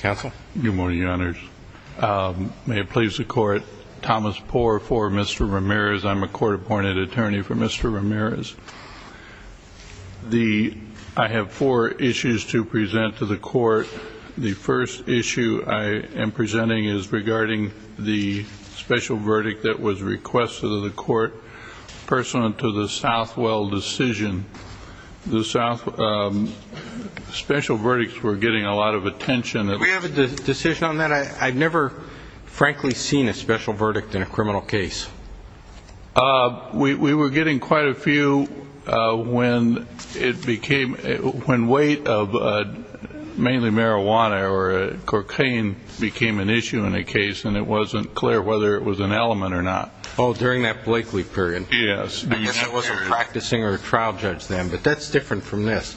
Good morning, your honors. May it please the court, Thomas Poore for Mr. Ramirez. I'm a court-appointed attorney for Mr. Ramirez. I have four issues to present to the court. The first issue I am presenting is regarding the special verdict that was requested of the court pursuant to the Southwell decision. The special verdicts were getting a lot of attention. Do we have a decision on that? I've never, frankly, seen a special verdict in a criminal case. We were getting quite a few when weight of mainly marijuana or cocaine became an issue in a case and it wasn't clear whether it was an element or not. Oh, during that Blakeley period? Yes. I guess I wasn't practicing or a trial judge then, but that's different from this.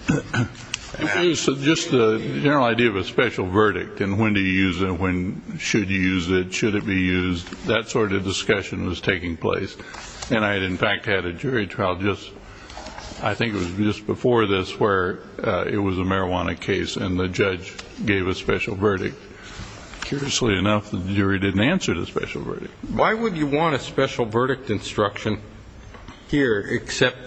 Just the general idea of a special verdict and when to use it, when should you use it, should it be used, that sort of discussion was taking place. And I had, in fact, had a jury trial just, I think it was just before this, where it was a marijuana case and the judge gave a special verdict. Curiously enough, the jury didn't answer the special verdict. Why would you want a special verdict instruction here except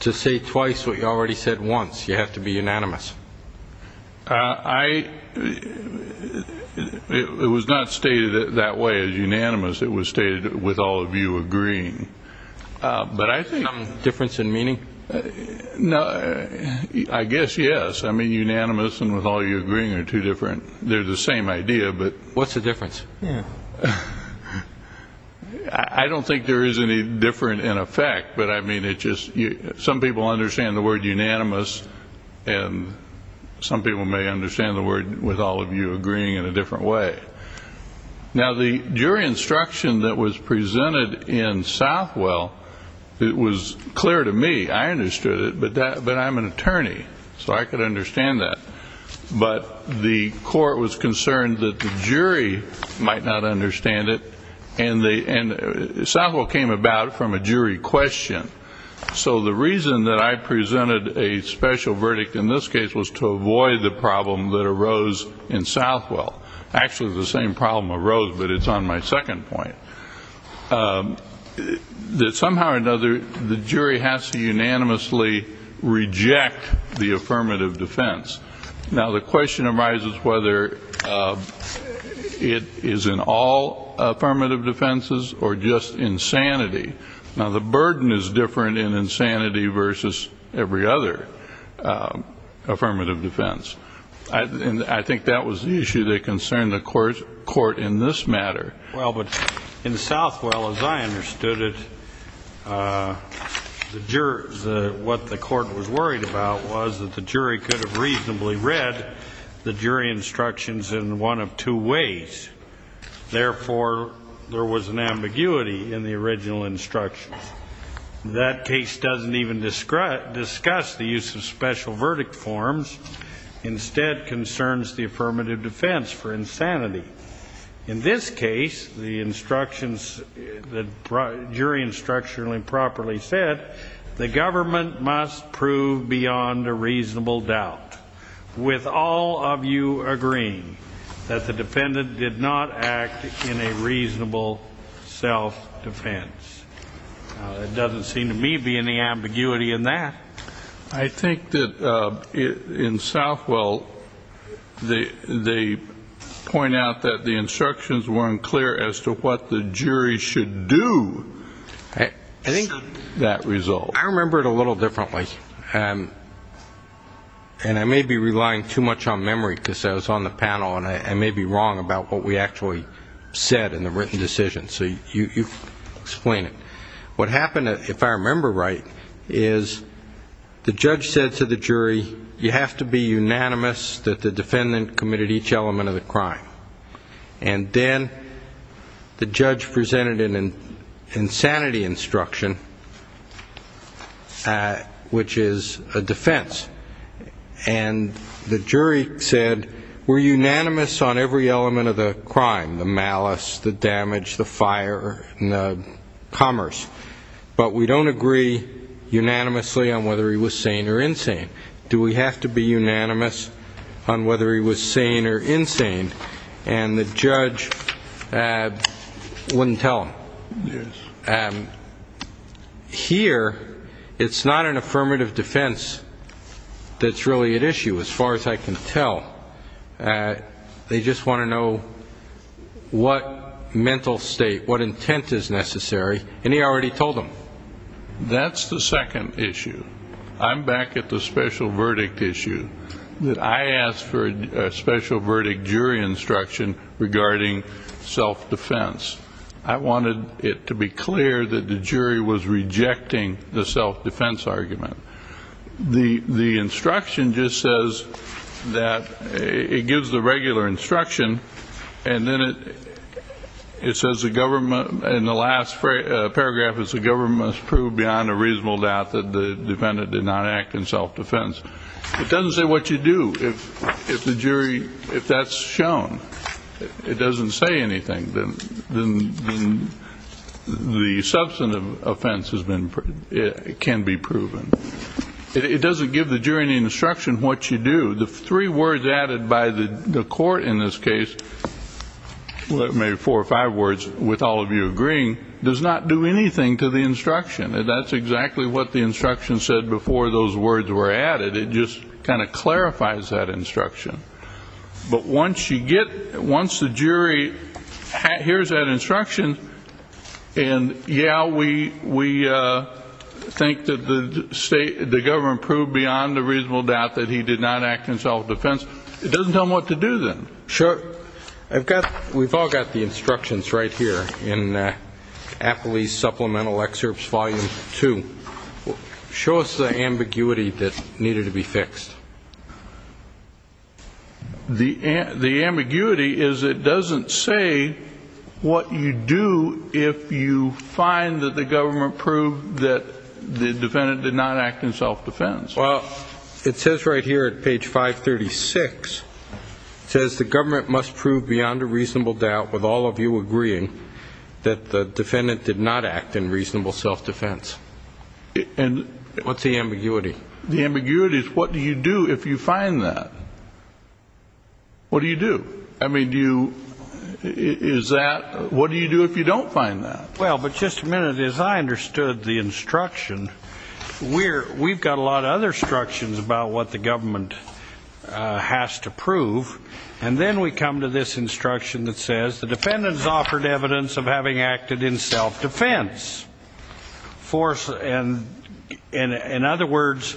to say twice what you already said once? You have to be unanimous. It was not stated that way as unanimous. It was stated with all of you agreeing. But I think Difference in meaning? I guess yes. I mean, unanimous and with all you agreeing are two different, they're the same idea, but What's the difference? I don't think there is any difference in effect, but I mean, it's just, some people understand the word unanimous and some people may understand the word with all of you agreeing in a different way. Now, the jury instruction that was presented in Southwell, it was clear to me, I understood it, but I'm an attorney, so I could understand that. But the court was concerned that the judge might not understand it. And Southwell came about from a jury question. So the reason that I presented a special verdict in this case was to avoid the problem that arose in Southwell. Actually, the same problem arose, but it's on my second point. That somehow or another, the jury has to unanimously reject the affirmative defense. Now, the question arises whether it is in all affirmative defenses or just insanity. Now, the burden is different in insanity versus every other affirmative defense. And I think that was the issue that concerned the court in this matter. Well, but in Southwell, as I understood it, what the court was worried about was that the jury could have reasonably read the jury instructions in one of two ways. Therefore, there was an ambiguity in the original instructions. That case doesn't even discuss the use of special verdict forms. Instead, concerns the affirmative defense for insanity. In this case, the instructions, the jury instruction properly said, the government must prove beyond a reasonable doubt, with all of you agreeing that the defendant did not act in a reasonable self-defense. Now, it doesn't seem to me to be any ambiguity in that. I think that in Southwell, they point out that the instructions weren't clear as to what the jury should do to that result. I remember it a little differently. And I may be relying too much on memory because I was on the panel, and I may be wrong about what we actually said in the written decision. So you explain it. What happened, if I remember right, is the judge said to the jury, you have to be unanimous that the defendant committed each element of the crime. And then the judge presented an insanity instruction, which is a defense. And the jury said, we're unanimous on every element of the crime, the malice, the damage, the fire, and the commerce. But we don't agree unanimously on whether he was sane or insane. Do we have to be unanimous on whether he was sane or insane? And the judge wouldn't tell him. Yes. Here, it's not an affirmative defense that's really at issue, as far as I can tell. They just want to know what mental state, what intent is necessary. And he already told them. That's the second issue. I'm back at the special verdict issue. I asked for a special verdict jury instruction regarding self-defense. I wanted it to be clear that the jury was rejecting the self-defense argument. The instruction just says that it gives the regular instruction, and then it says the government, in the last paragraph, it says the government has proved beyond a reasonable doubt that the defendant did not act in self-defense. It doesn't say what you do. If the jury, if that's shown, it doesn't say anything, then the substantive offense can be proven. It doesn't give the jury any instruction what you do. The three or four or five words, with all of you agreeing, does not do anything to the instruction. That's exactly what the instruction said before those words were added. It just kind of clarifies that instruction. But once you get, once the jury hears that instruction, and yeah, we think that the state, the government proved beyond a reasonable doubt that he did not act in self-defense, it doesn't tell them what to do then. Sure. I've got, we've all got the instructions right here in Appley's Supplemental Excerpts Volume 2. Show us the ambiguity that needed to be fixed. The ambiguity is it doesn't say what you do if you find that the government proved that the defendant did not act in self-defense. Well, it says right here at page 536, it says the government must prove beyond a reasonable doubt with all of you agreeing that the defendant did not act in reasonable self-defense. What's the ambiguity? The ambiguity is what do you do if you find that? What do you do? I mean, do you, is that, what do you do if you don't find that? Well, but just a minute, as I understood the instruction, we're, we've got a lot of other instructions about what the government has to prove, and then we come to this instruction that says the defendant's offered evidence of having acted in self-defense. Force, and, in other words,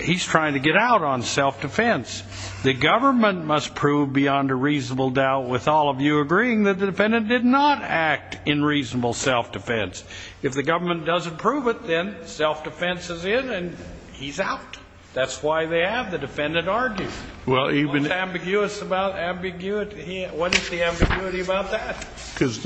he's trying to get out on self-defense. The government must prove beyond a reasonable doubt with all of you agreeing that the defendant did not act in reasonable self-defense. If the government doesn't prove it, then self-defense is in and he's out. That's why they have the defendant argue. Well, even What's ambiguous about ambiguity? What is the ambiguity about that? Because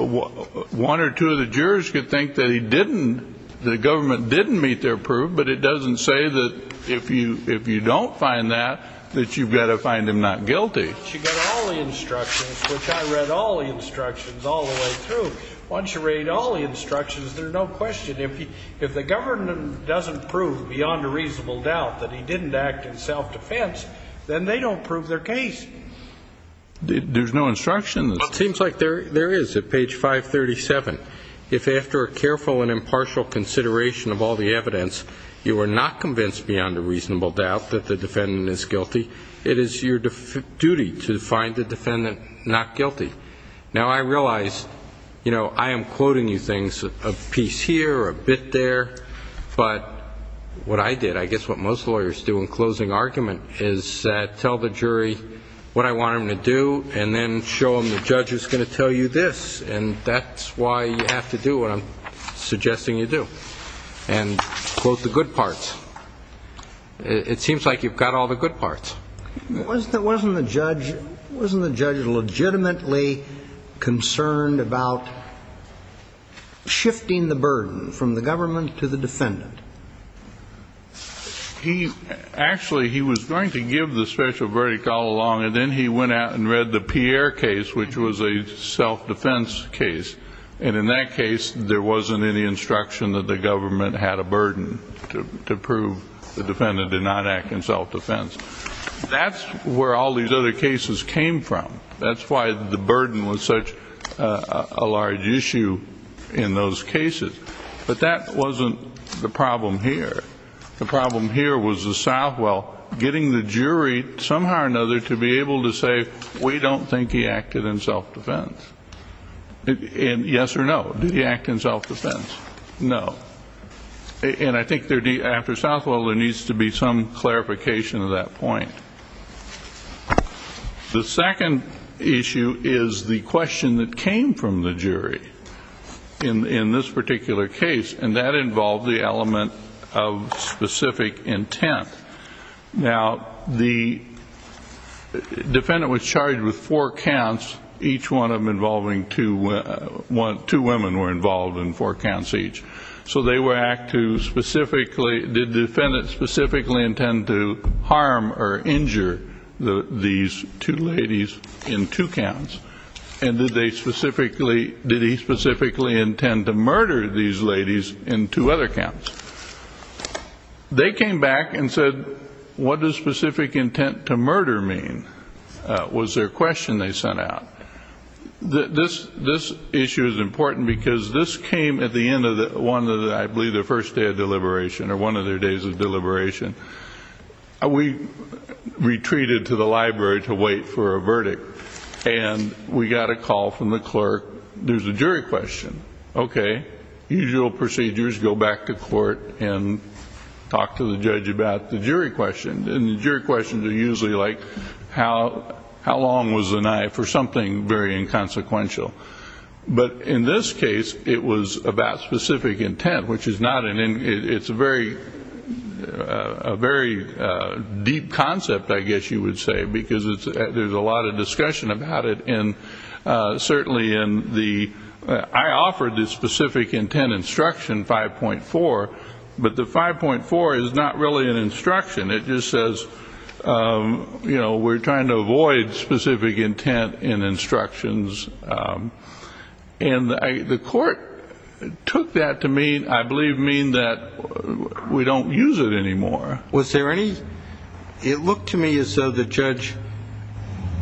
one or two of the jurors could think that he didn't, the government didn't meet their proof, but it doesn't say that if you, if you don't find that, that you've got to find him not guilty. But you've got all the instructions, which I read all the instructions all the way through. Once you read all the instructions, there's no question. If you, if the government doesn't prove beyond a reasonable doubt that he didn't act in self-defense, then they don't prove their case. There's no instruction? It seems like there, there is at page 537. If after a careful and impartial consideration of all the evidence, you are not convinced beyond a reasonable doubt that the defendant is guilty, it is your duty to find the defendant not guilty. Now, I realize, you know, I am quoting you things a piece here, a bit there, but what I did, I guess what most lawyers do in closing argument is that tell the jury what I want them to do and then show them the judge is going to tell you this. And that's why you have to do what I'm suggesting you do and quote the good parts. It seems like you've got all the good parts. Wasn't the judge, wasn't the judge legitimately concerned about shifting the burden from the government to the defendant? He actually, he was going to give the special verdict all along and then he went out and read the Pierre case, which was a self-defense case. And in that case, there wasn't any instruction that the government had a burden to prove the defendant did not act in self-defense. That's where all these other cases came from. That's why the burden was such a large issue in those cases. But that wasn't the problem here. The problem here was the Southwell getting the jury somehow or another to be able to say, we don't think he acted in self-defense. And yes or no, did he act in self-defense? No. And I think after Southwell, there needs to be some clarification of that point. The second issue is the question that came from the jury in this particular case, and that involved the element of specific intent. Now, the defendant was charged with four counts, each one of them involving two women, two women were involved in four counts each. So they were asked to specifically, did the defendant specifically intend to harm or injure these two ladies in two counts? And did they specifically, did he specifically intend to murder these ladies in two other counts? They came back and said, what does specific intent to murder mean? Was their question they sent out? This issue is important because this came at the end of one of the, I believe, the first day of deliberation, or one of their days of deliberation. We retreated to the library to wait for a verdict, and we got a call from the clerk, there's a jury question. Okay, usual procedures, go back to court and talk to the judge about the jury question. And the jury questions are usually like, how long was the knife, or something very inconsequential. But in this case, it was about specific intent, which is not an, it's a very, a very deep concept I guess you would say, because there's a lot of discussion about it in, certainly in the, I offered the specific intent instruction 5.4, but the 5.4 is not really an instruction, it just says, you know, we're trying to avoid specific intent in instructions. And the court took that to mean, I believe, mean that we don't use it anymore. Was there any, it looked to me as though the judge,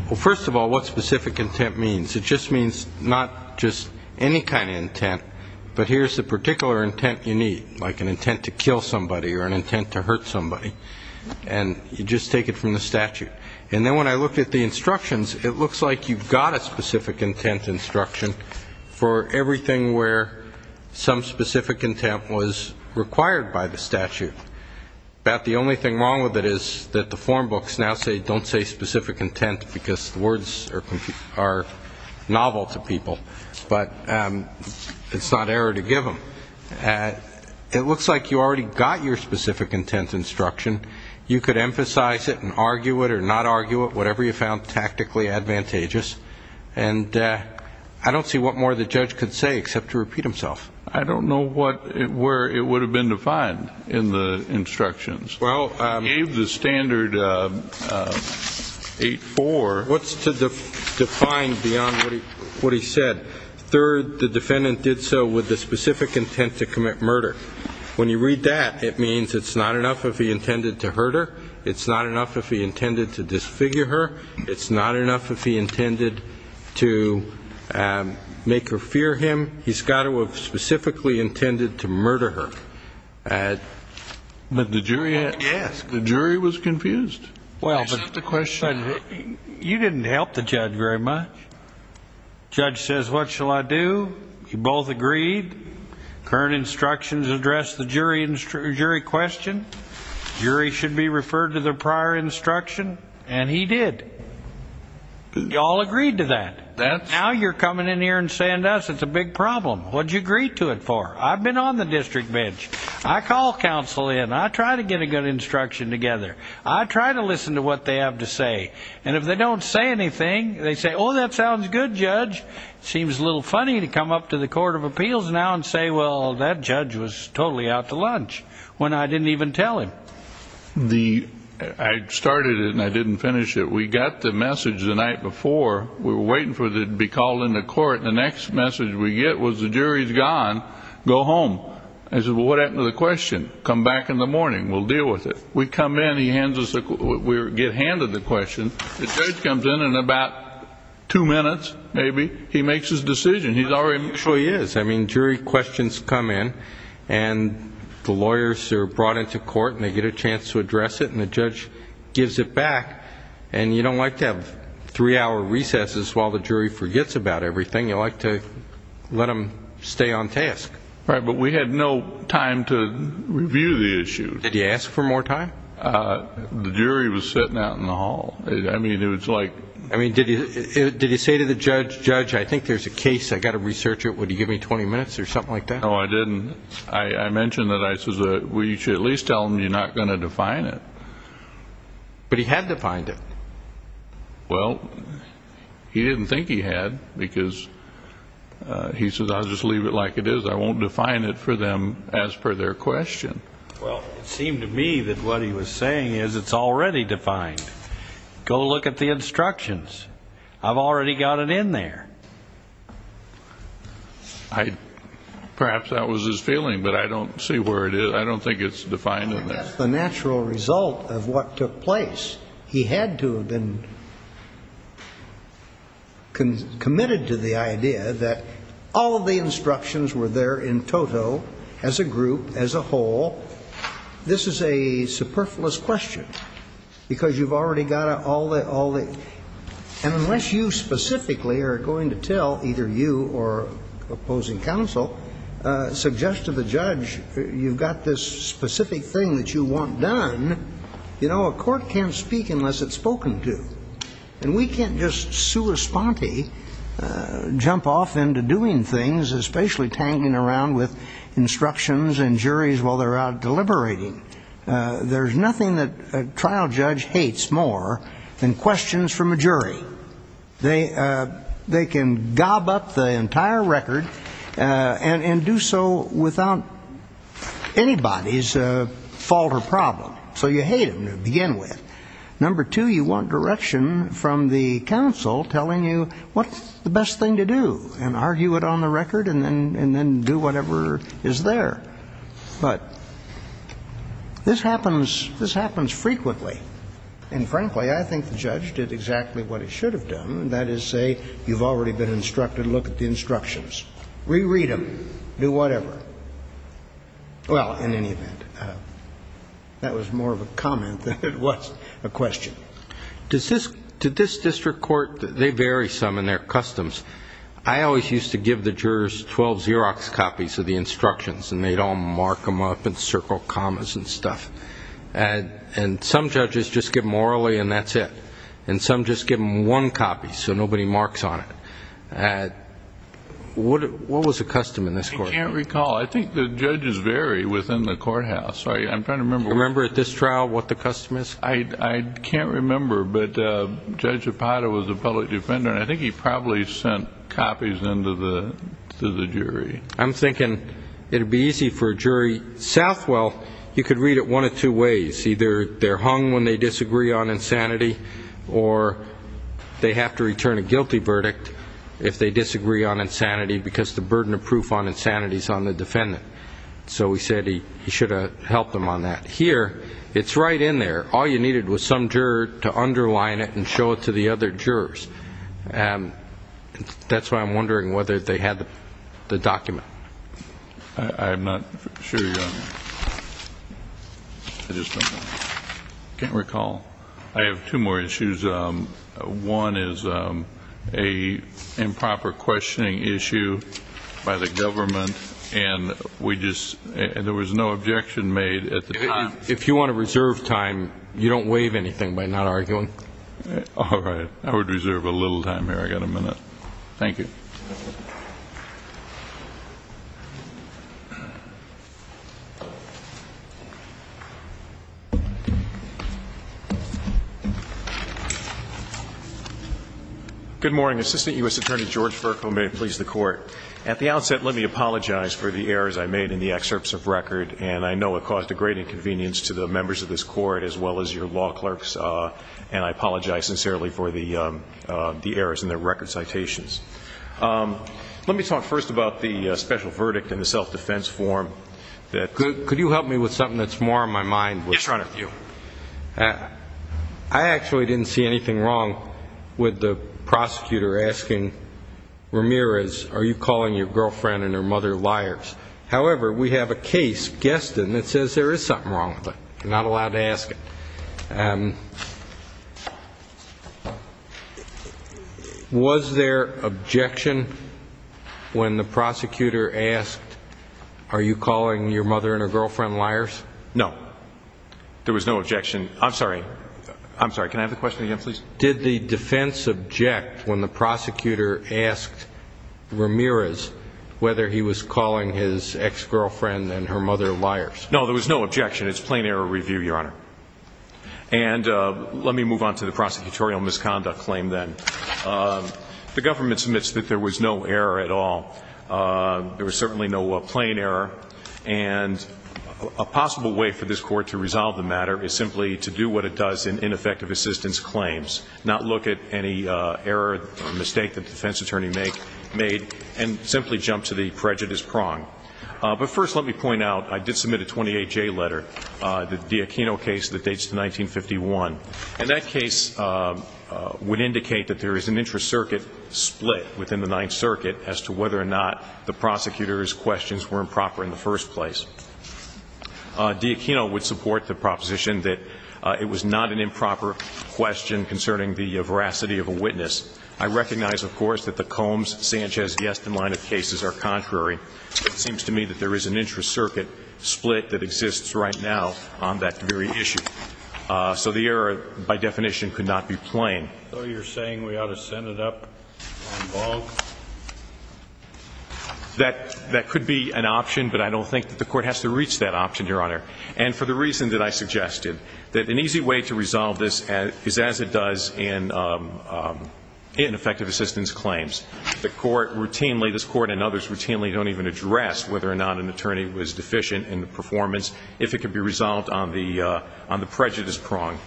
well first of all, what specific intent means? It just means not just any kind of intent, but here's the particular intent you have, or an intent to hurt somebody, and you just take it from the statute. And then when I looked at the instructions, it looks like you've got a specific intent instruction for everything where some specific intent was required by the statute. About the only thing wrong with it is that the form books now say, don't say specific intent, because the words are novel to people, but it's not error to give them. So, it looks like you already got your specific intent instruction. You could emphasize it and argue it or not argue it, whatever you found tactically advantageous. And I don't see what more the judge could say except to repeat himself. I don't know what, where it would have been defined in the instructions. Well, I gave the standard 8.4. What's to define beyond what he said? Third, the defendant did so with the specific intent to commit murder. When you read that, it means it's not enough if he intended to hurt her. It's not enough if he intended to disfigure her. It's not enough if he intended to make her fear him. He's got to have specifically intended to murder her. But the jury asked. The jury was confused. Well, but you didn't help the judge very much. The judge says, what shall I do? You both agreed. Current instructions address the jury question. The jury should be referred to the prior instruction. And he did. You all agreed to that. Now you're coming in here and saying to us, it's a big problem. What did you agree to it for? I've been on the court of appeals now and say, well, that judge was totally out to lunch when I didn't even tell him the. I started it and I didn't finish it. We got the message the night before. We're waiting for it to be called in the court. The next message we get was the jury's gone. Go home. I said, well, what happened to the question? Come back in the morning. We'll get handed the question. The judge comes in and in about two minutes, maybe, he makes his decision. He's already. So he is. I mean, jury questions come in and the lawyers are brought into court and they get a chance to address it and the judge gives it back. And you don't like to have three hour recesses while the jury forgets about everything. You like to let them stay on task. Right. But we had no time to review the issue. Did you ask for more time? The jury was sitting out in the hall. I mean, it was like. I mean, did you did you say to the judge, judge, I think there's a case I got to research it. Would you give me 20 minutes or something like that? No, I didn't. I mentioned that. I says we should at least tell him you're not going to define it. But he had defined it. Well, he didn't think he had because he says I'll just leave it like it is. I won't define it for them as per their question. Well, it seemed to me that what he was saying is it's already defined. Go look at the instructions. I've already got it in there. I perhaps that was his feeling, but I don't see where it is. I don't think it's defined and that's the natural result of what took place. He had to have been. Committed to the idea that all of the instructions were there in total as a group, as a whole. This is a superfluous question because you've already got all the all the and unless you specifically are going to tell either you or opposing counsel suggest to the judge you've got this specific thing that you want done, you know, a court can't speak unless it's spoken to. And we can't just sue a sponte, jump off into doing things, especially tangling around with instructions and juries while they're out deliberating. There's nothing that trial judge hates more than questions from a jury. They they can gob up the entire record and do so without anybody's fault or problem. So you hate them to begin with. Number two, you want direction from the counsel telling you what's the best thing to do and argue it on the record and then and then do whatever is there. But this happens. This happens frequently. And frankly, I think the judge did exactly what it should have done. That is, say, you've already been instructed. Look at the instructions. Reread them. Do whatever. Well, in any event, that was more of a comment than it was a question. Does this to this district court, they vary some in their customs. I always used to give the jurors 12 Xerox copies of the instructions and they'd all mark them up in circle commas and stuff. And some judges just give them orally and that's it. And some just give them one copy. So nobody marks on it. What was the custom in this court? I can't recall. I think the judges vary within the courthouse. I'm trying to remember. Remember at this trial what the custom is? I can't remember. But Judge Zapata was a public defender and I think he probably sent copies into the jury. I'm thinking it would be easy for a jury. Southwell, you could read it one of two ways. Either they're hung when they disagree on insanity or they have to return a guilty verdict if they disagree on insanity because the burden of proof on insanity is on the defendant. So we said he should have helped them on that. Here, it's right in there. All you needed was some juror to underline it and show it to the other jurors. That's why I'm wondering whether they had the document. I'm not sure. I just don't know. I can't recall. I have two more issues. One is an improper questioning issue by the government and there was no objection made at the time. If you want to reserve time, you don't waive anything by not arguing. All right. I would reserve a little time here. I've got a minute. Thank you. Good morning. Assistant U.S. Attorney George Furco may it please the Court. At the outset, let me apologize for the errors I made in the excerpts of record and I know it caused a great inconvenience to the members of this Court as well as your law clerks and I apologize for that. Let me talk first about the special verdict in the self-defense form. Could you help me with something that's more on my mind? Yes, Your Honor. I actually didn't see anything wrong with the prosecutor asking Ramirez, are you calling your girlfriend and her mother liars? However, we have a case, Geston, that says there is something wrong with it. You're not allowed to ask it. Okay. Was there objection when the prosecutor asked, are you calling your mother and her girlfriend liars? No. There was no objection. I'm sorry. I'm sorry. Can I have the question again, please? Did the defense object when the prosecutor asked Ramirez whether he was calling his ex-girlfriend and her mother liars? No, there was no objection. It's plain error review, Your Honor. And let me move on to the prosecutorial misconduct claim then. The government submits that there was no error at all. There was certainly no plain error and a possible way for this Court to resolve the matter is simply to do what it does in ineffective assistance claims, not look at any error or mistake that the defense attorney made and simply jump to the prejudice prong. But first let me point out, I did submit a 28-J letter, the DiAquino case that dates to 1951. And that case would indicate that there is an intra-circuit split within the Ninth Circuit as to whether or not the prosecutor's questions were improper in the first place. DiAquino would support the proposition that it was not an improper question concerning the veracity of a witness. I recognize, of course, that the Combs-Sanchez-Geston line of cases are contrary. It seems to me that there is an intra-circuit split that exists right now on that very issue. So the error, by definition, could not be plain. So you're saying we ought to send it up on bulk? That could be an option, but I don't think that the Court has to reach that option, Your Honor. And for the reason that I suggested, that an easy way to resolve this is as it claims. The Court routinely, this Court and others routinely, don't even address whether or not an attorney was deficient in the performance if it could be resolved on the prejudice prong.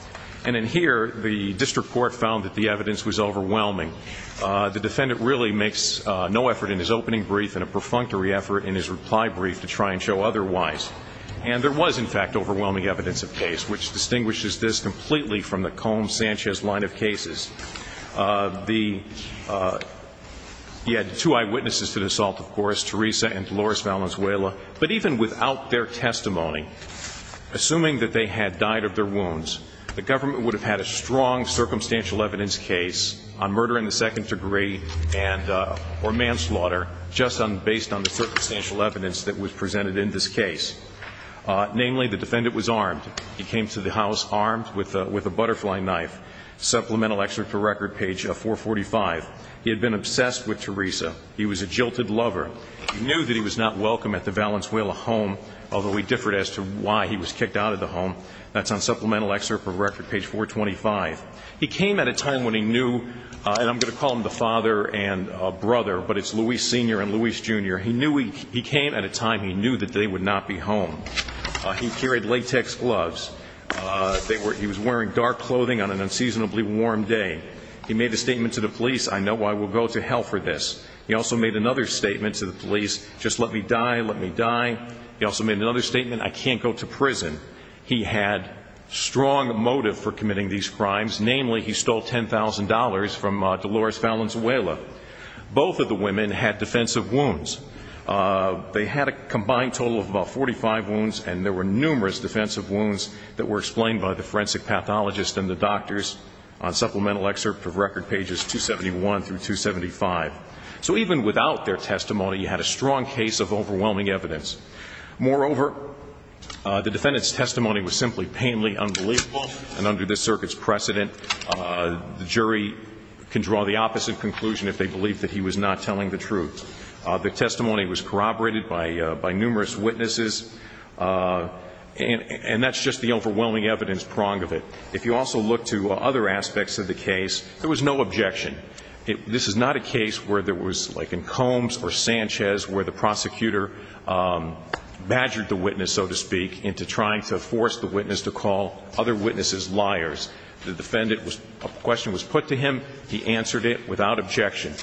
And in here, the district court found that the evidence was overwhelming. The defendant really makes no effort in his opening brief and a perfunctory effort in his reply brief to try and show otherwise. And there was, in fact, overwhelming evidence of case, which He had two eyewitnesses to the assault, of course, Teresa and Dolores Valenzuela. But even without their testimony, assuming that they had died of their wounds, the government would have had a strong circumstantial evidence case on murder in the second degree and or manslaughter just based on the circumstantial evidence that was presented in this case. Namely, the defendant was armed. He came to the house armed with a butterfly knife. Supplemental excerpt of record page 445. He had been obsessed with Teresa. He was a jilted lover. He knew that he was not welcome at the Valenzuela home, although he differed as to why he was kicked out of the home. That's on supplemental excerpt of record page 425. He came at a time when he knew, and I'm going to call him the father and brother, but it's Luis Sr. and Luis Jr. He knew he came at a time he knew that they would not be home. He carried latex gloves. He was wearing dark clothing on an unseasonably warm day. He made a statement to the police, I know I will go to hell for this. He also made another statement to the police, just let me die, let me die. He also made another statement, I can't go to prison. He had strong motive for committing these crimes. Namely, he stole $10,000 from Dolores Valenzuela. Both of the women had defensive wounds. They had a combined total of about that were explained by the forensic pathologist and the doctors on supplemental excerpt of record pages 271 through 275. So even without their testimony, you had a strong case of overwhelming evidence. Moreover, the defendant's testimony was simply painfully unbelievable and under this circuit's precedent, the jury can draw the opposite conclusion if they believe that he was not telling the truth. The testimony was corroborated by numerous witnesses, and that's just the overwhelming evidence prong of it. If you also look to other aspects of the case, there was no objection. This is not a case where there was like in Combs or Sanchez where the prosecutor badgered the witness, so to speak, into trying to force the witness to call other witnesses liars. The defendant was, a question was put to him, he answered it without objection.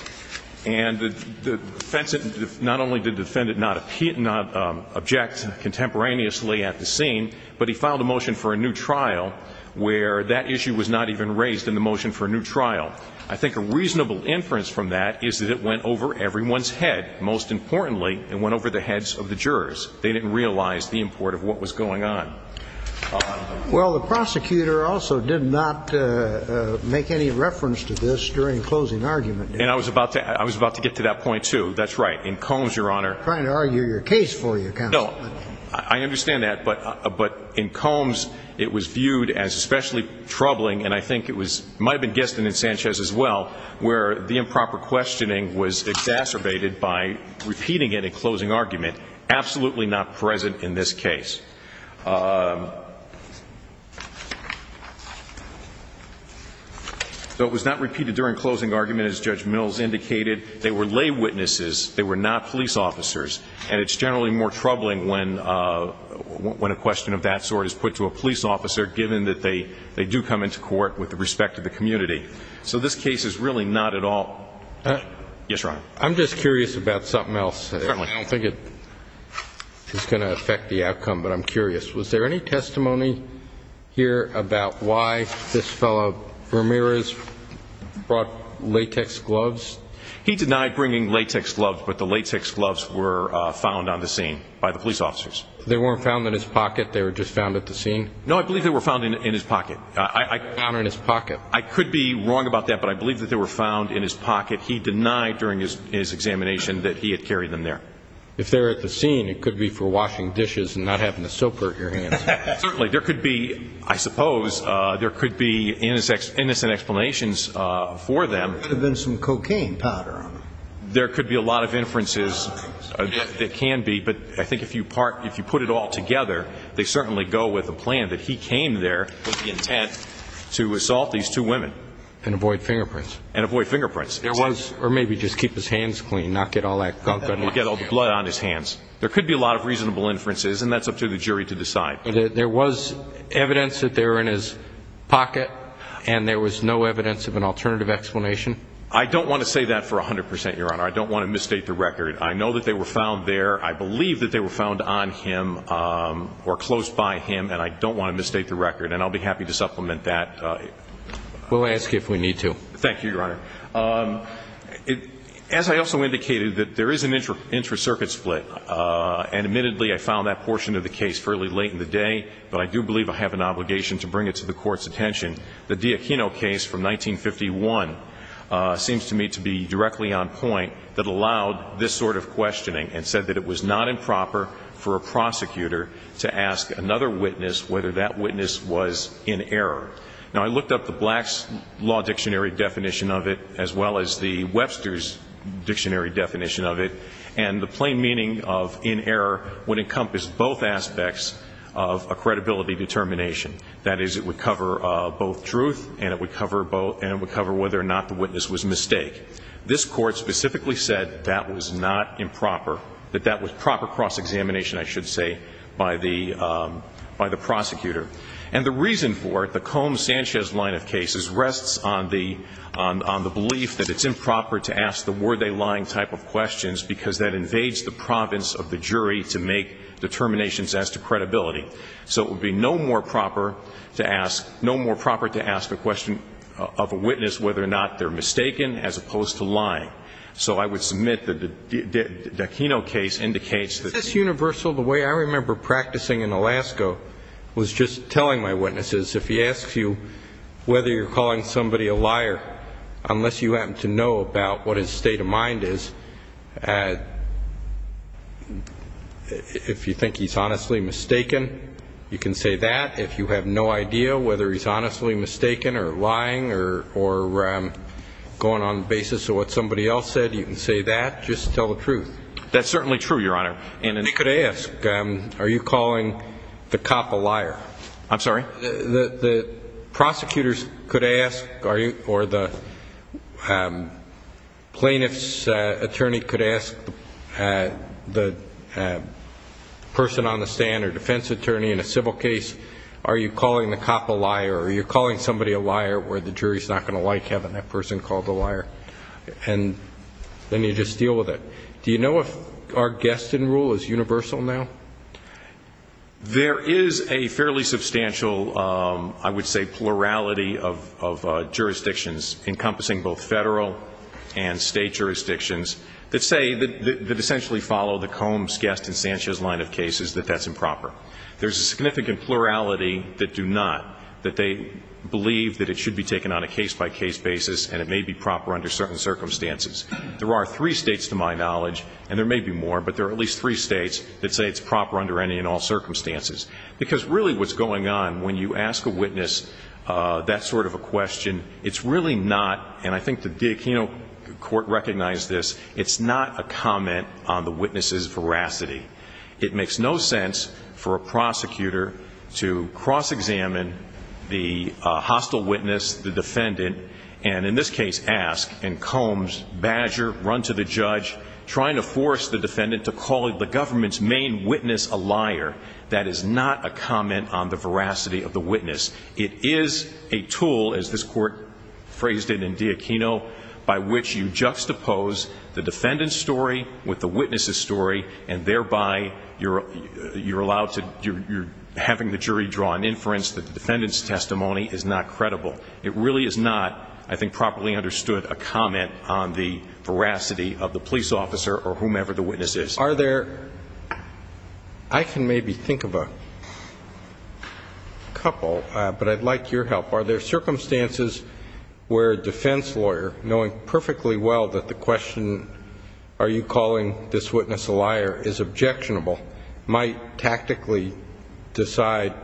And the defense, not only did the defendant not object contemporaneously at the scene, but he filed a motion for a new trial where that issue was not even raised in the motion for a new trial. I think a reasonable inference from that is that it went over everyone's head. Most importantly, it went over the heads of the jurors. They didn't realize the import of what was going on. Well, the prosecutor also did not make any reference to this during closing argument. And I was about to get to that point, too. That's right. In Combs, Your Honor, I understand that, but in Combs, it was viewed as especially troubling, and I think it might have been guessed in Sanchez as well, where the improper questioning was exacerbated by repeating it in closing argument. Absolutely not present in this case. So it was not repeated during closing argument, as Judge Mills indicated. They were lay witnesses. They were not police officers. And it's generally more troubling when a question of that sort is put to a police officer, given that they do come into court with respect to the community. So this case is really not at all. Yes, Your Honor. I'm just curious about something else. Certainly. I don't think it's going to affect the outcome, but I'm curious. Was there any testimony here about why this fellow Ramirez brought latex gloves? He denied bringing latex gloves, but the latex gloves were found on the scene by the police officers. They weren't found in his pocket? They were just found at the scene? No, I believe they were found in his pocket. I could be wrong about that, but I believe that they were found in his pocket. He denied during his examination that he had carried them there. If they were at the scene, it could be for washing dishes and not having a soapper at your hands. Certainly. There could be, I suppose, there could be innocent explanations for them. There could have been some cocaine powder on them. There could be a lot of inferences that can be, but I think if you put it all together, they certainly go with a plan that he came there with the intent to assault these two women. And avoid fingerprints. And avoid fingerprints. Or maybe just keep his hands clean, not get all that gunk on his hands. And not get all the blood on his hands. There could be a lot of reasonable inferences, and that's up to the jury to decide. There was evidence that they were in his pocket, and there was no evidence of an alternative explanation? I don't want to say that for 100%, Your Honor. I don't want to misstate the record. I know that they were found there. I believe that they were found on him, or close by him, and I don't want to misstate the record. And I'll be happy to supplement that. We'll ask if we need to. Thank you, Your Honor. As I also indicated, there is an intra-circuit split. And admittedly, I found that portion of the case fairly late in the day, but I do believe I have an obligation to bring it to the Court's attention. The D'Aquino case from 1951 seems to me to be directly on point, that allowed this sort of questioning, and said that it was not improper for a prosecutor to ask another witness whether that witness was in error. Now I looked up the Black's Law Dictionary definition of it, as well as the Webster's Dictionary definition of it, and the plain meaning of in error would encompass both aspects of a credibility determination. That is, it would cover both truth, and it would cover whether or not the witness was a mistake. This Court specifically said that was not improper, that that was proper cross-examination, I should say, by the prosecutor. And the reason for it, the Combs-Sanchez line of cases, rests on the belief that it's improper to ask the were-they-lying type of questions, because that invades the province of the jury to make determinations as to credibility. So it would be no more proper to ask, no more proper to ask the question of a witness whether or not they're mistaken, as opposed to lying. So I would submit that the D'Aquino case indicates that Is this universal? The way I remember practicing in Alaska was just telling my witnesses, if he asks you whether you're calling somebody a liar, unless you happen to know about what his state of mind is, if you think he's honestly mistaken, you can say that. If you have no idea whether he's honestly mistaken or lying or going on the basis of what somebody else said, you can say that. Just tell the truth. That's certainly true, Your Honor. And They could ask, are you calling the cop a liar? I'm sorry? The prosecutors could ask, or the plaintiff's attorney could ask the person on the stand or defense attorney in a civil case, are you calling the cop a liar? Are you calling somebody a liar where the jury's not going to like having that person called a liar? And then you just deal with it. Do you know if our guest in rule is universal now? There is a fairly substantial, I would say, plurality of jurisdictions, encompassing both federal and state jurisdictions, that say, that essentially follow the Combs, Guest and Sanchez line of cases, that that's improper. There's a significant plurality that do not, that they believe that it should be taken on a case-by-case basis and it may be proper under certain circumstances. There are three states, to my knowledge, and there may be more, but there are at least three states that say it's proper under any and all circumstances. Because really what's going on, when you ask a witness that sort of a question, it's really not, and I think the D'Aquino Court recognized this, it's not a comment on the witness' veracity. It makes no sense for a prosecutor to cross-examine the hostile witness, the defendant, and in this case ask, and Combs, Badger, run to the judge, trying to force the defendant to call the government's main witness a liar. That is not a comment on the veracity of the witness. It is a tool, as this Court phrased it in D'Aquino, by which you juxtapose the defendant's story with the witness' story and thereby you're allowed to, you're having the jury draw an inference that the defendant's testimony is not credible. It really is not, I think, properly understood a comment on the veracity of the police officer or whomever the witness is. Are there, I can maybe think of a couple, but I'd like your help. Are there circumstances where a defense lawyer, knowing perfectly well that the question, are you calling this witness a liar, is objectionable, might tactically decide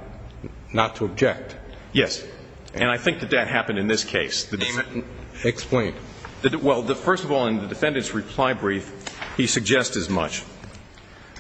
not to object? Yes. And I think that that happened in this case. Explain. Well, first of all, in the defendant's reply brief, he suggests as much.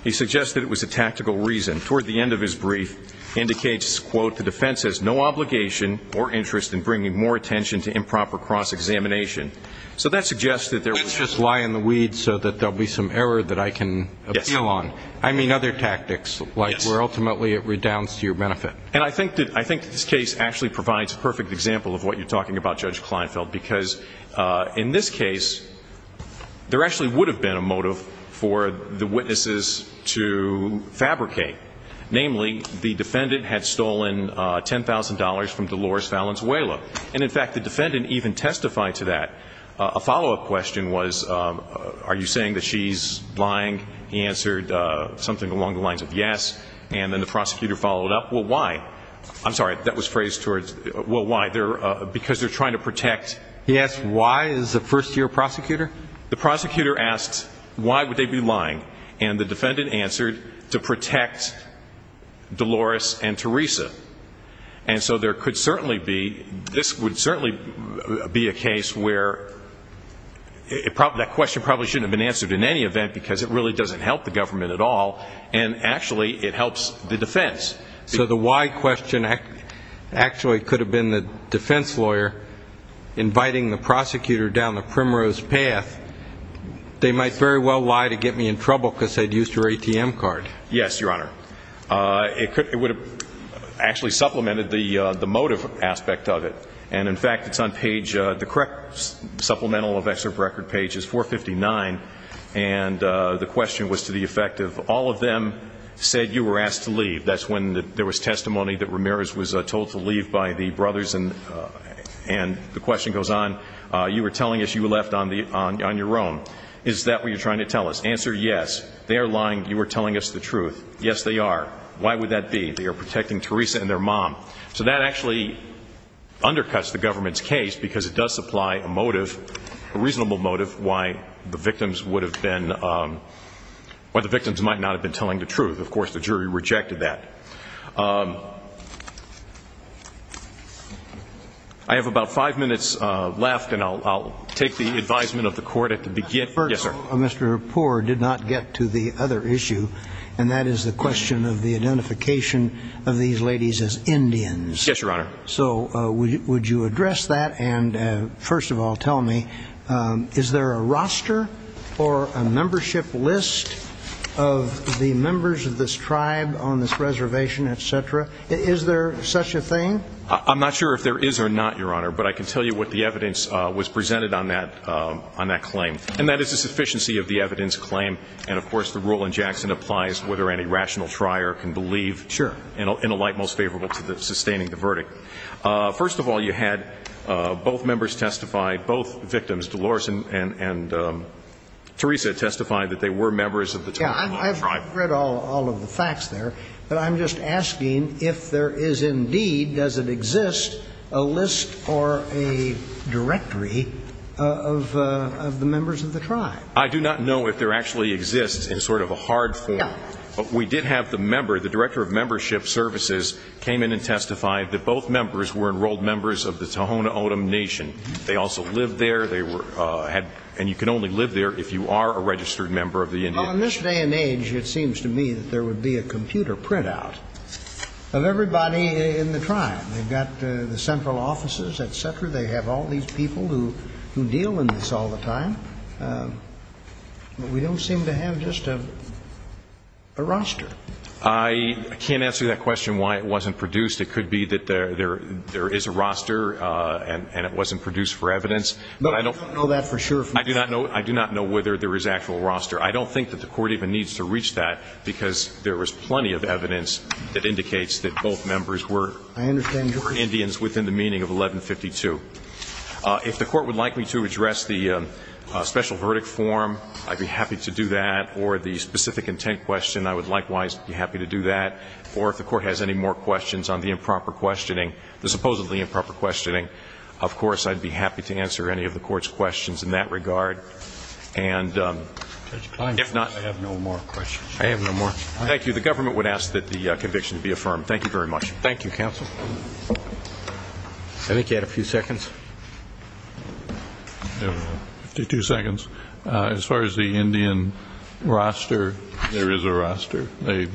He suggests that it was a tactical reason. Toward the end of his brief, he indicates, quote, the defense has no obligation or interest in bringing more attention to improper cross-examination. So that suggests that there was just lie in the weeds so that there'll be some error that I can appeal on. I mean other tactics, like where ultimately it redounds to your benefit. And I think that this case actually provides a perfect example of what you're talking about, Judge Kleinfeld, because in this case, there actually would have been a motive for the witnesses to fabricate. Namely, the defendant had stolen $10,000 from Dolores Valenzuela. And in fact, the defendant even testified to that. A follow-up question was, are you saying that she's lying? He answered something along the lines of yes. And then the prosecutor followed up, well, why? I'm sorry, that was phrased towards, well, why? Because they're trying to protect. He asked why as a first-year prosecutor? The prosecutor asked, why would they be lying? And the defendant answered, to protect Dolores and Teresa. And so there could certainly be, this would certainly be a case where that question probably shouldn't have been answered in any event because it really doesn't help the government at all. And actually, it helps the defense. So the why question actually could have been the defense lawyer inviting the prosecutor down the primrose path. They might very well lie to get me in trouble because I'd used her ATM card. Yes, Your Honor. It would have actually supplemented the motive aspect of it. And in fact, it's on page, the correct supplemental of excerpt record page is 459. And the question was to the effect of, all of them said you were asked to leave. That's when there was testimony that Ramirez was told to leave by the brothers. And the question goes on, you were telling us you left on your own. Is that what you're trying to tell us? Answer, yes. They are lying. You were telling us the truth. Yes, they are. Why would that be? They are protecting Teresa and their mom. So that actually undercuts the government's case because it does supply a motive, a reasonable motive, why the victims would have been, why the victims might not have been telling the truth. Of course, the jury rejected that. I have about five minutes left, and I'll take the advisement of the court at the beginning. Yes, sir. First of all, Mr. Rapport did not get to the other issue, and that is the question of the Yes, Your Honor. So would you address that? And first of all, tell me, is there a roster or a membership list of the members of this tribe on this reservation, et cetera? Is there such a thing? I'm not sure if there is or not, Your Honor, but I can tell you what the evidence was presented on that claim. And that is a sufficiency of the evidence claim. And of course, the rule in Jackson applies whether any rational trier can believe in a light most favorable to sustaining the verdict. Sure. First of all, you had both members testify, both victims, Dolores and Teresa, testify that they were members of the Cherokee National Tribe. Yes, I've read all of the facts there, but I'm just asking if there is indeed, does it exist, a list or a directory of the members of the tribe? I do not know if there actually exists in sort of a hard form, but we did have the member, the Director of Membership Services, came in and testified that both members were enrolled members of the Tohono O'odham Nation. They also lived there. They were, and you can only live there if you are a registered member of the Indian. Well, in this day and age, it seems to me that there would be a computer printout of everybody in the tribe. They've got the central offices, et cetera. They have all these people who deal in this all the time, but we don't seem to have just a roster. I can't answer that question why it wasn't produced. It could be that there is a roster and it wasn't produced for evidence, but I don't know that for sure. I do not know whether there is actual roster. I don't think that the Court even needs to reach that because there was plenty of evidence that indicates that both members were Indians within the meaning of 1152. If the Court would like me to address the special verdict form, I'd be happy to do that. Or the specific intent question, I would likewise be happy to do that. Or if the Court has any more questions on the improper questioning, the supposedly improper questioning, of course, I'd be happy to answer any of the Court's questions in that regard. And if not, I have no more questions. I have no more. Thank you. The government would ask that the conviction be affirmed. Thank you very much. Thank you, counsel. I think you had a few seconds. 52 seconds. As far as the Indian roster, there is a roster. They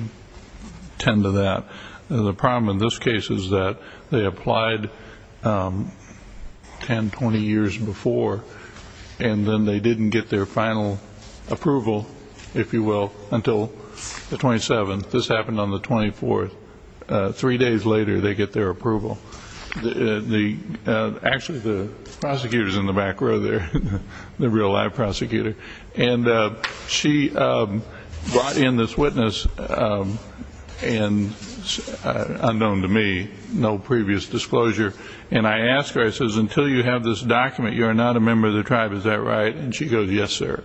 tend to that. The problem in this case is that they applied 10, 20 years before, and then they didn't get their final approval, if you will, until the 27th. This happened on the 24th. Three days later, they get their approval. Actually, the prosecutor is in the back row there, the real-life prosecutor. And she brought in this witness, unknown to me, no previous disclosure. And I asked her, I says, until you have this document, you are not a member of the tribe. Is that right? And she goes, yes, sir.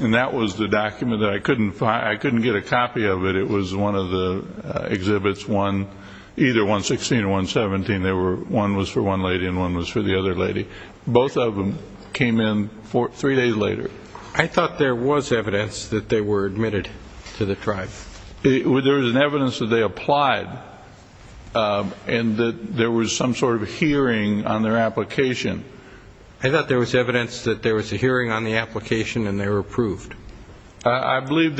And that was the document that I couldn't find. I couldn't get a copy of it. It was one of the exhibits, either 116 or 117. One was for one lady and one was for the other lady. Both of them came in three days later. I thought there was evidence that they were admitted to the tribe. There was evidence that they applied and that there was some sort of hearing on their application. I thought there was evidence that there was a hearing on the application and they were approved. I believe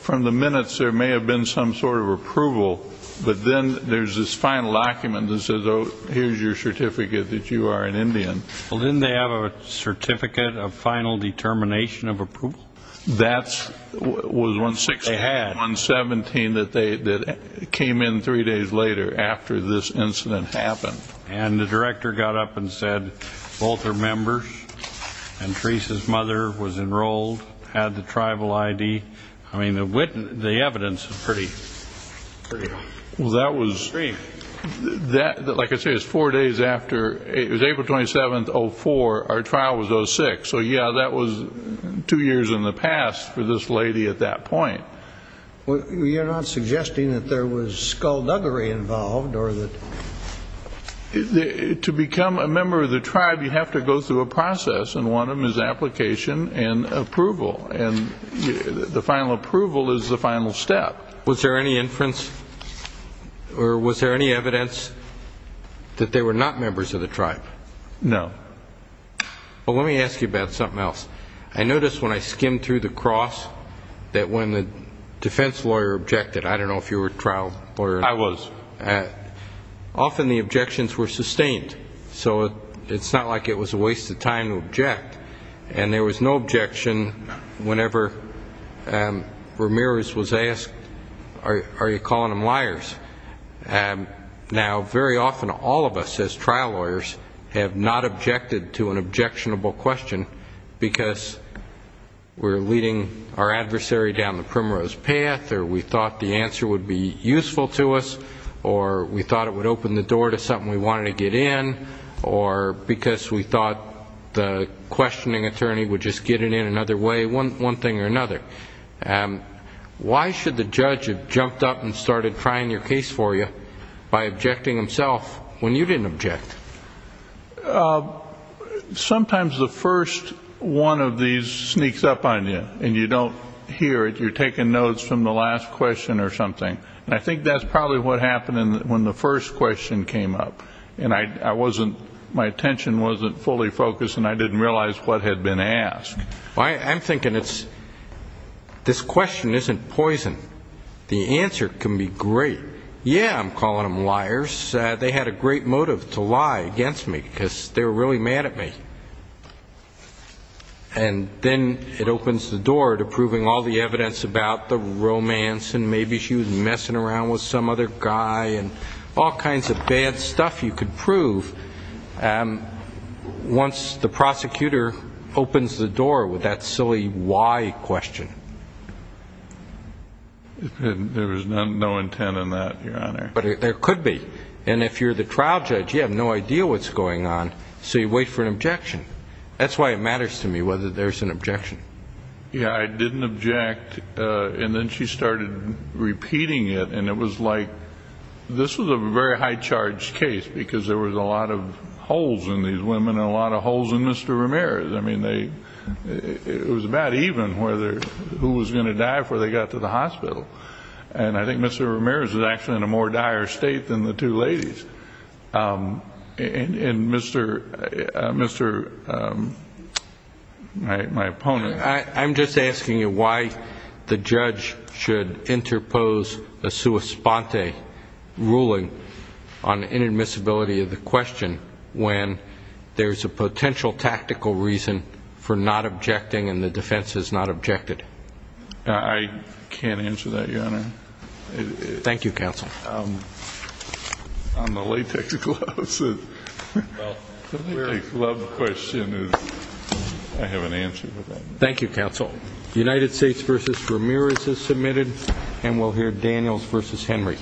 from the minutes there may have been some sort of approval, but then there's this final document that says, oh, here's your certificate that you are an Indian. Well, didn't they have a certificate of final determination of approval? That was 116 and 117 that came in three days later after this incident happened. And the director got up and said, both are members. And Teresa's mother was enrolled, had the tribal ID. I mean, the evidence is pretty extreme. Well, that was, like I said, it was four days after. It was April 27, 2004. Our trial was 06. So, yeah, that was two years in the past for this lady at that point. You're not suggesting that there was skullduggery involved or that? To become a member of the tribe, you have to go through a process, and one of them is application and approval. And the final approval is the final step. Was there any inference or was there any evidence that they were not members of the tribe? No. Well, let me ask you about something else. I noticed when I skimmed through the cross that when the defense lawyer objected, I don't know if you were a trial lawyer. I was. Often the objections were sustained. So it's not like it was a waste of time to object. And there was no objection whenever Ramirez was asked, are you calling them liars? Now, very often all of us as trial lawyers have not objected to an objectionable question because we're leading our adversary down the primrose path or we thought the answer would be useful to us or we thought it would open the door to something we wanted to get in or because we thought the questioning attorney would just get it in another way, one thing or another. Why should the judge have jumped up and started trying your case for you by objecting himself when you didn't object? Sometimes the first one of these sneaks up on you and you don't hear it. You're taking notes from the last question or something. And I think that's probably what happened when the first question came up, and my attention wasn't fully focused and I didn't realize what had been asked. I'm thinking this question isn't poison. The answer can be great. Yeah, I'm calling them liars. They had a great motive to lie against me because they were really mad at me. And then it opens the door to proving all the evidence about the romance and maybe she was messing around with some other guy and all kinds of bad stuff you could prove. Once the prosecutor opens the door with that silly why question. There was no intent in that, Your Honor. But there could be. And if you're the trial judge, you have no idea what's going on, so you wait for an objection. That's why it matters to me whether there's an objection. Yeah, I didn't object, and then she started repeating it, and it was like this was a very high-charged case because there was a lot of holes in these women and a lot of holes in Mr. Ramirez. I mean, it was about even who was going to die before they got to the hospital. And I think Mr. Ramirez was actually in a more dire state than the two ladies. My opponent. I'm just asking you why the judge should interpose a sua sponte ruling on inadmissibility of the question when there's a potential tactical reason for not objecting and the defense has not objected. I can't answer that, Your Honor. Thank you, counsel. On the latex gloves, the latex glove question, I have an answer to that. Thank you, counsel. United States v. Ramirez is submitted, and we'll hear Daniels v. Henry.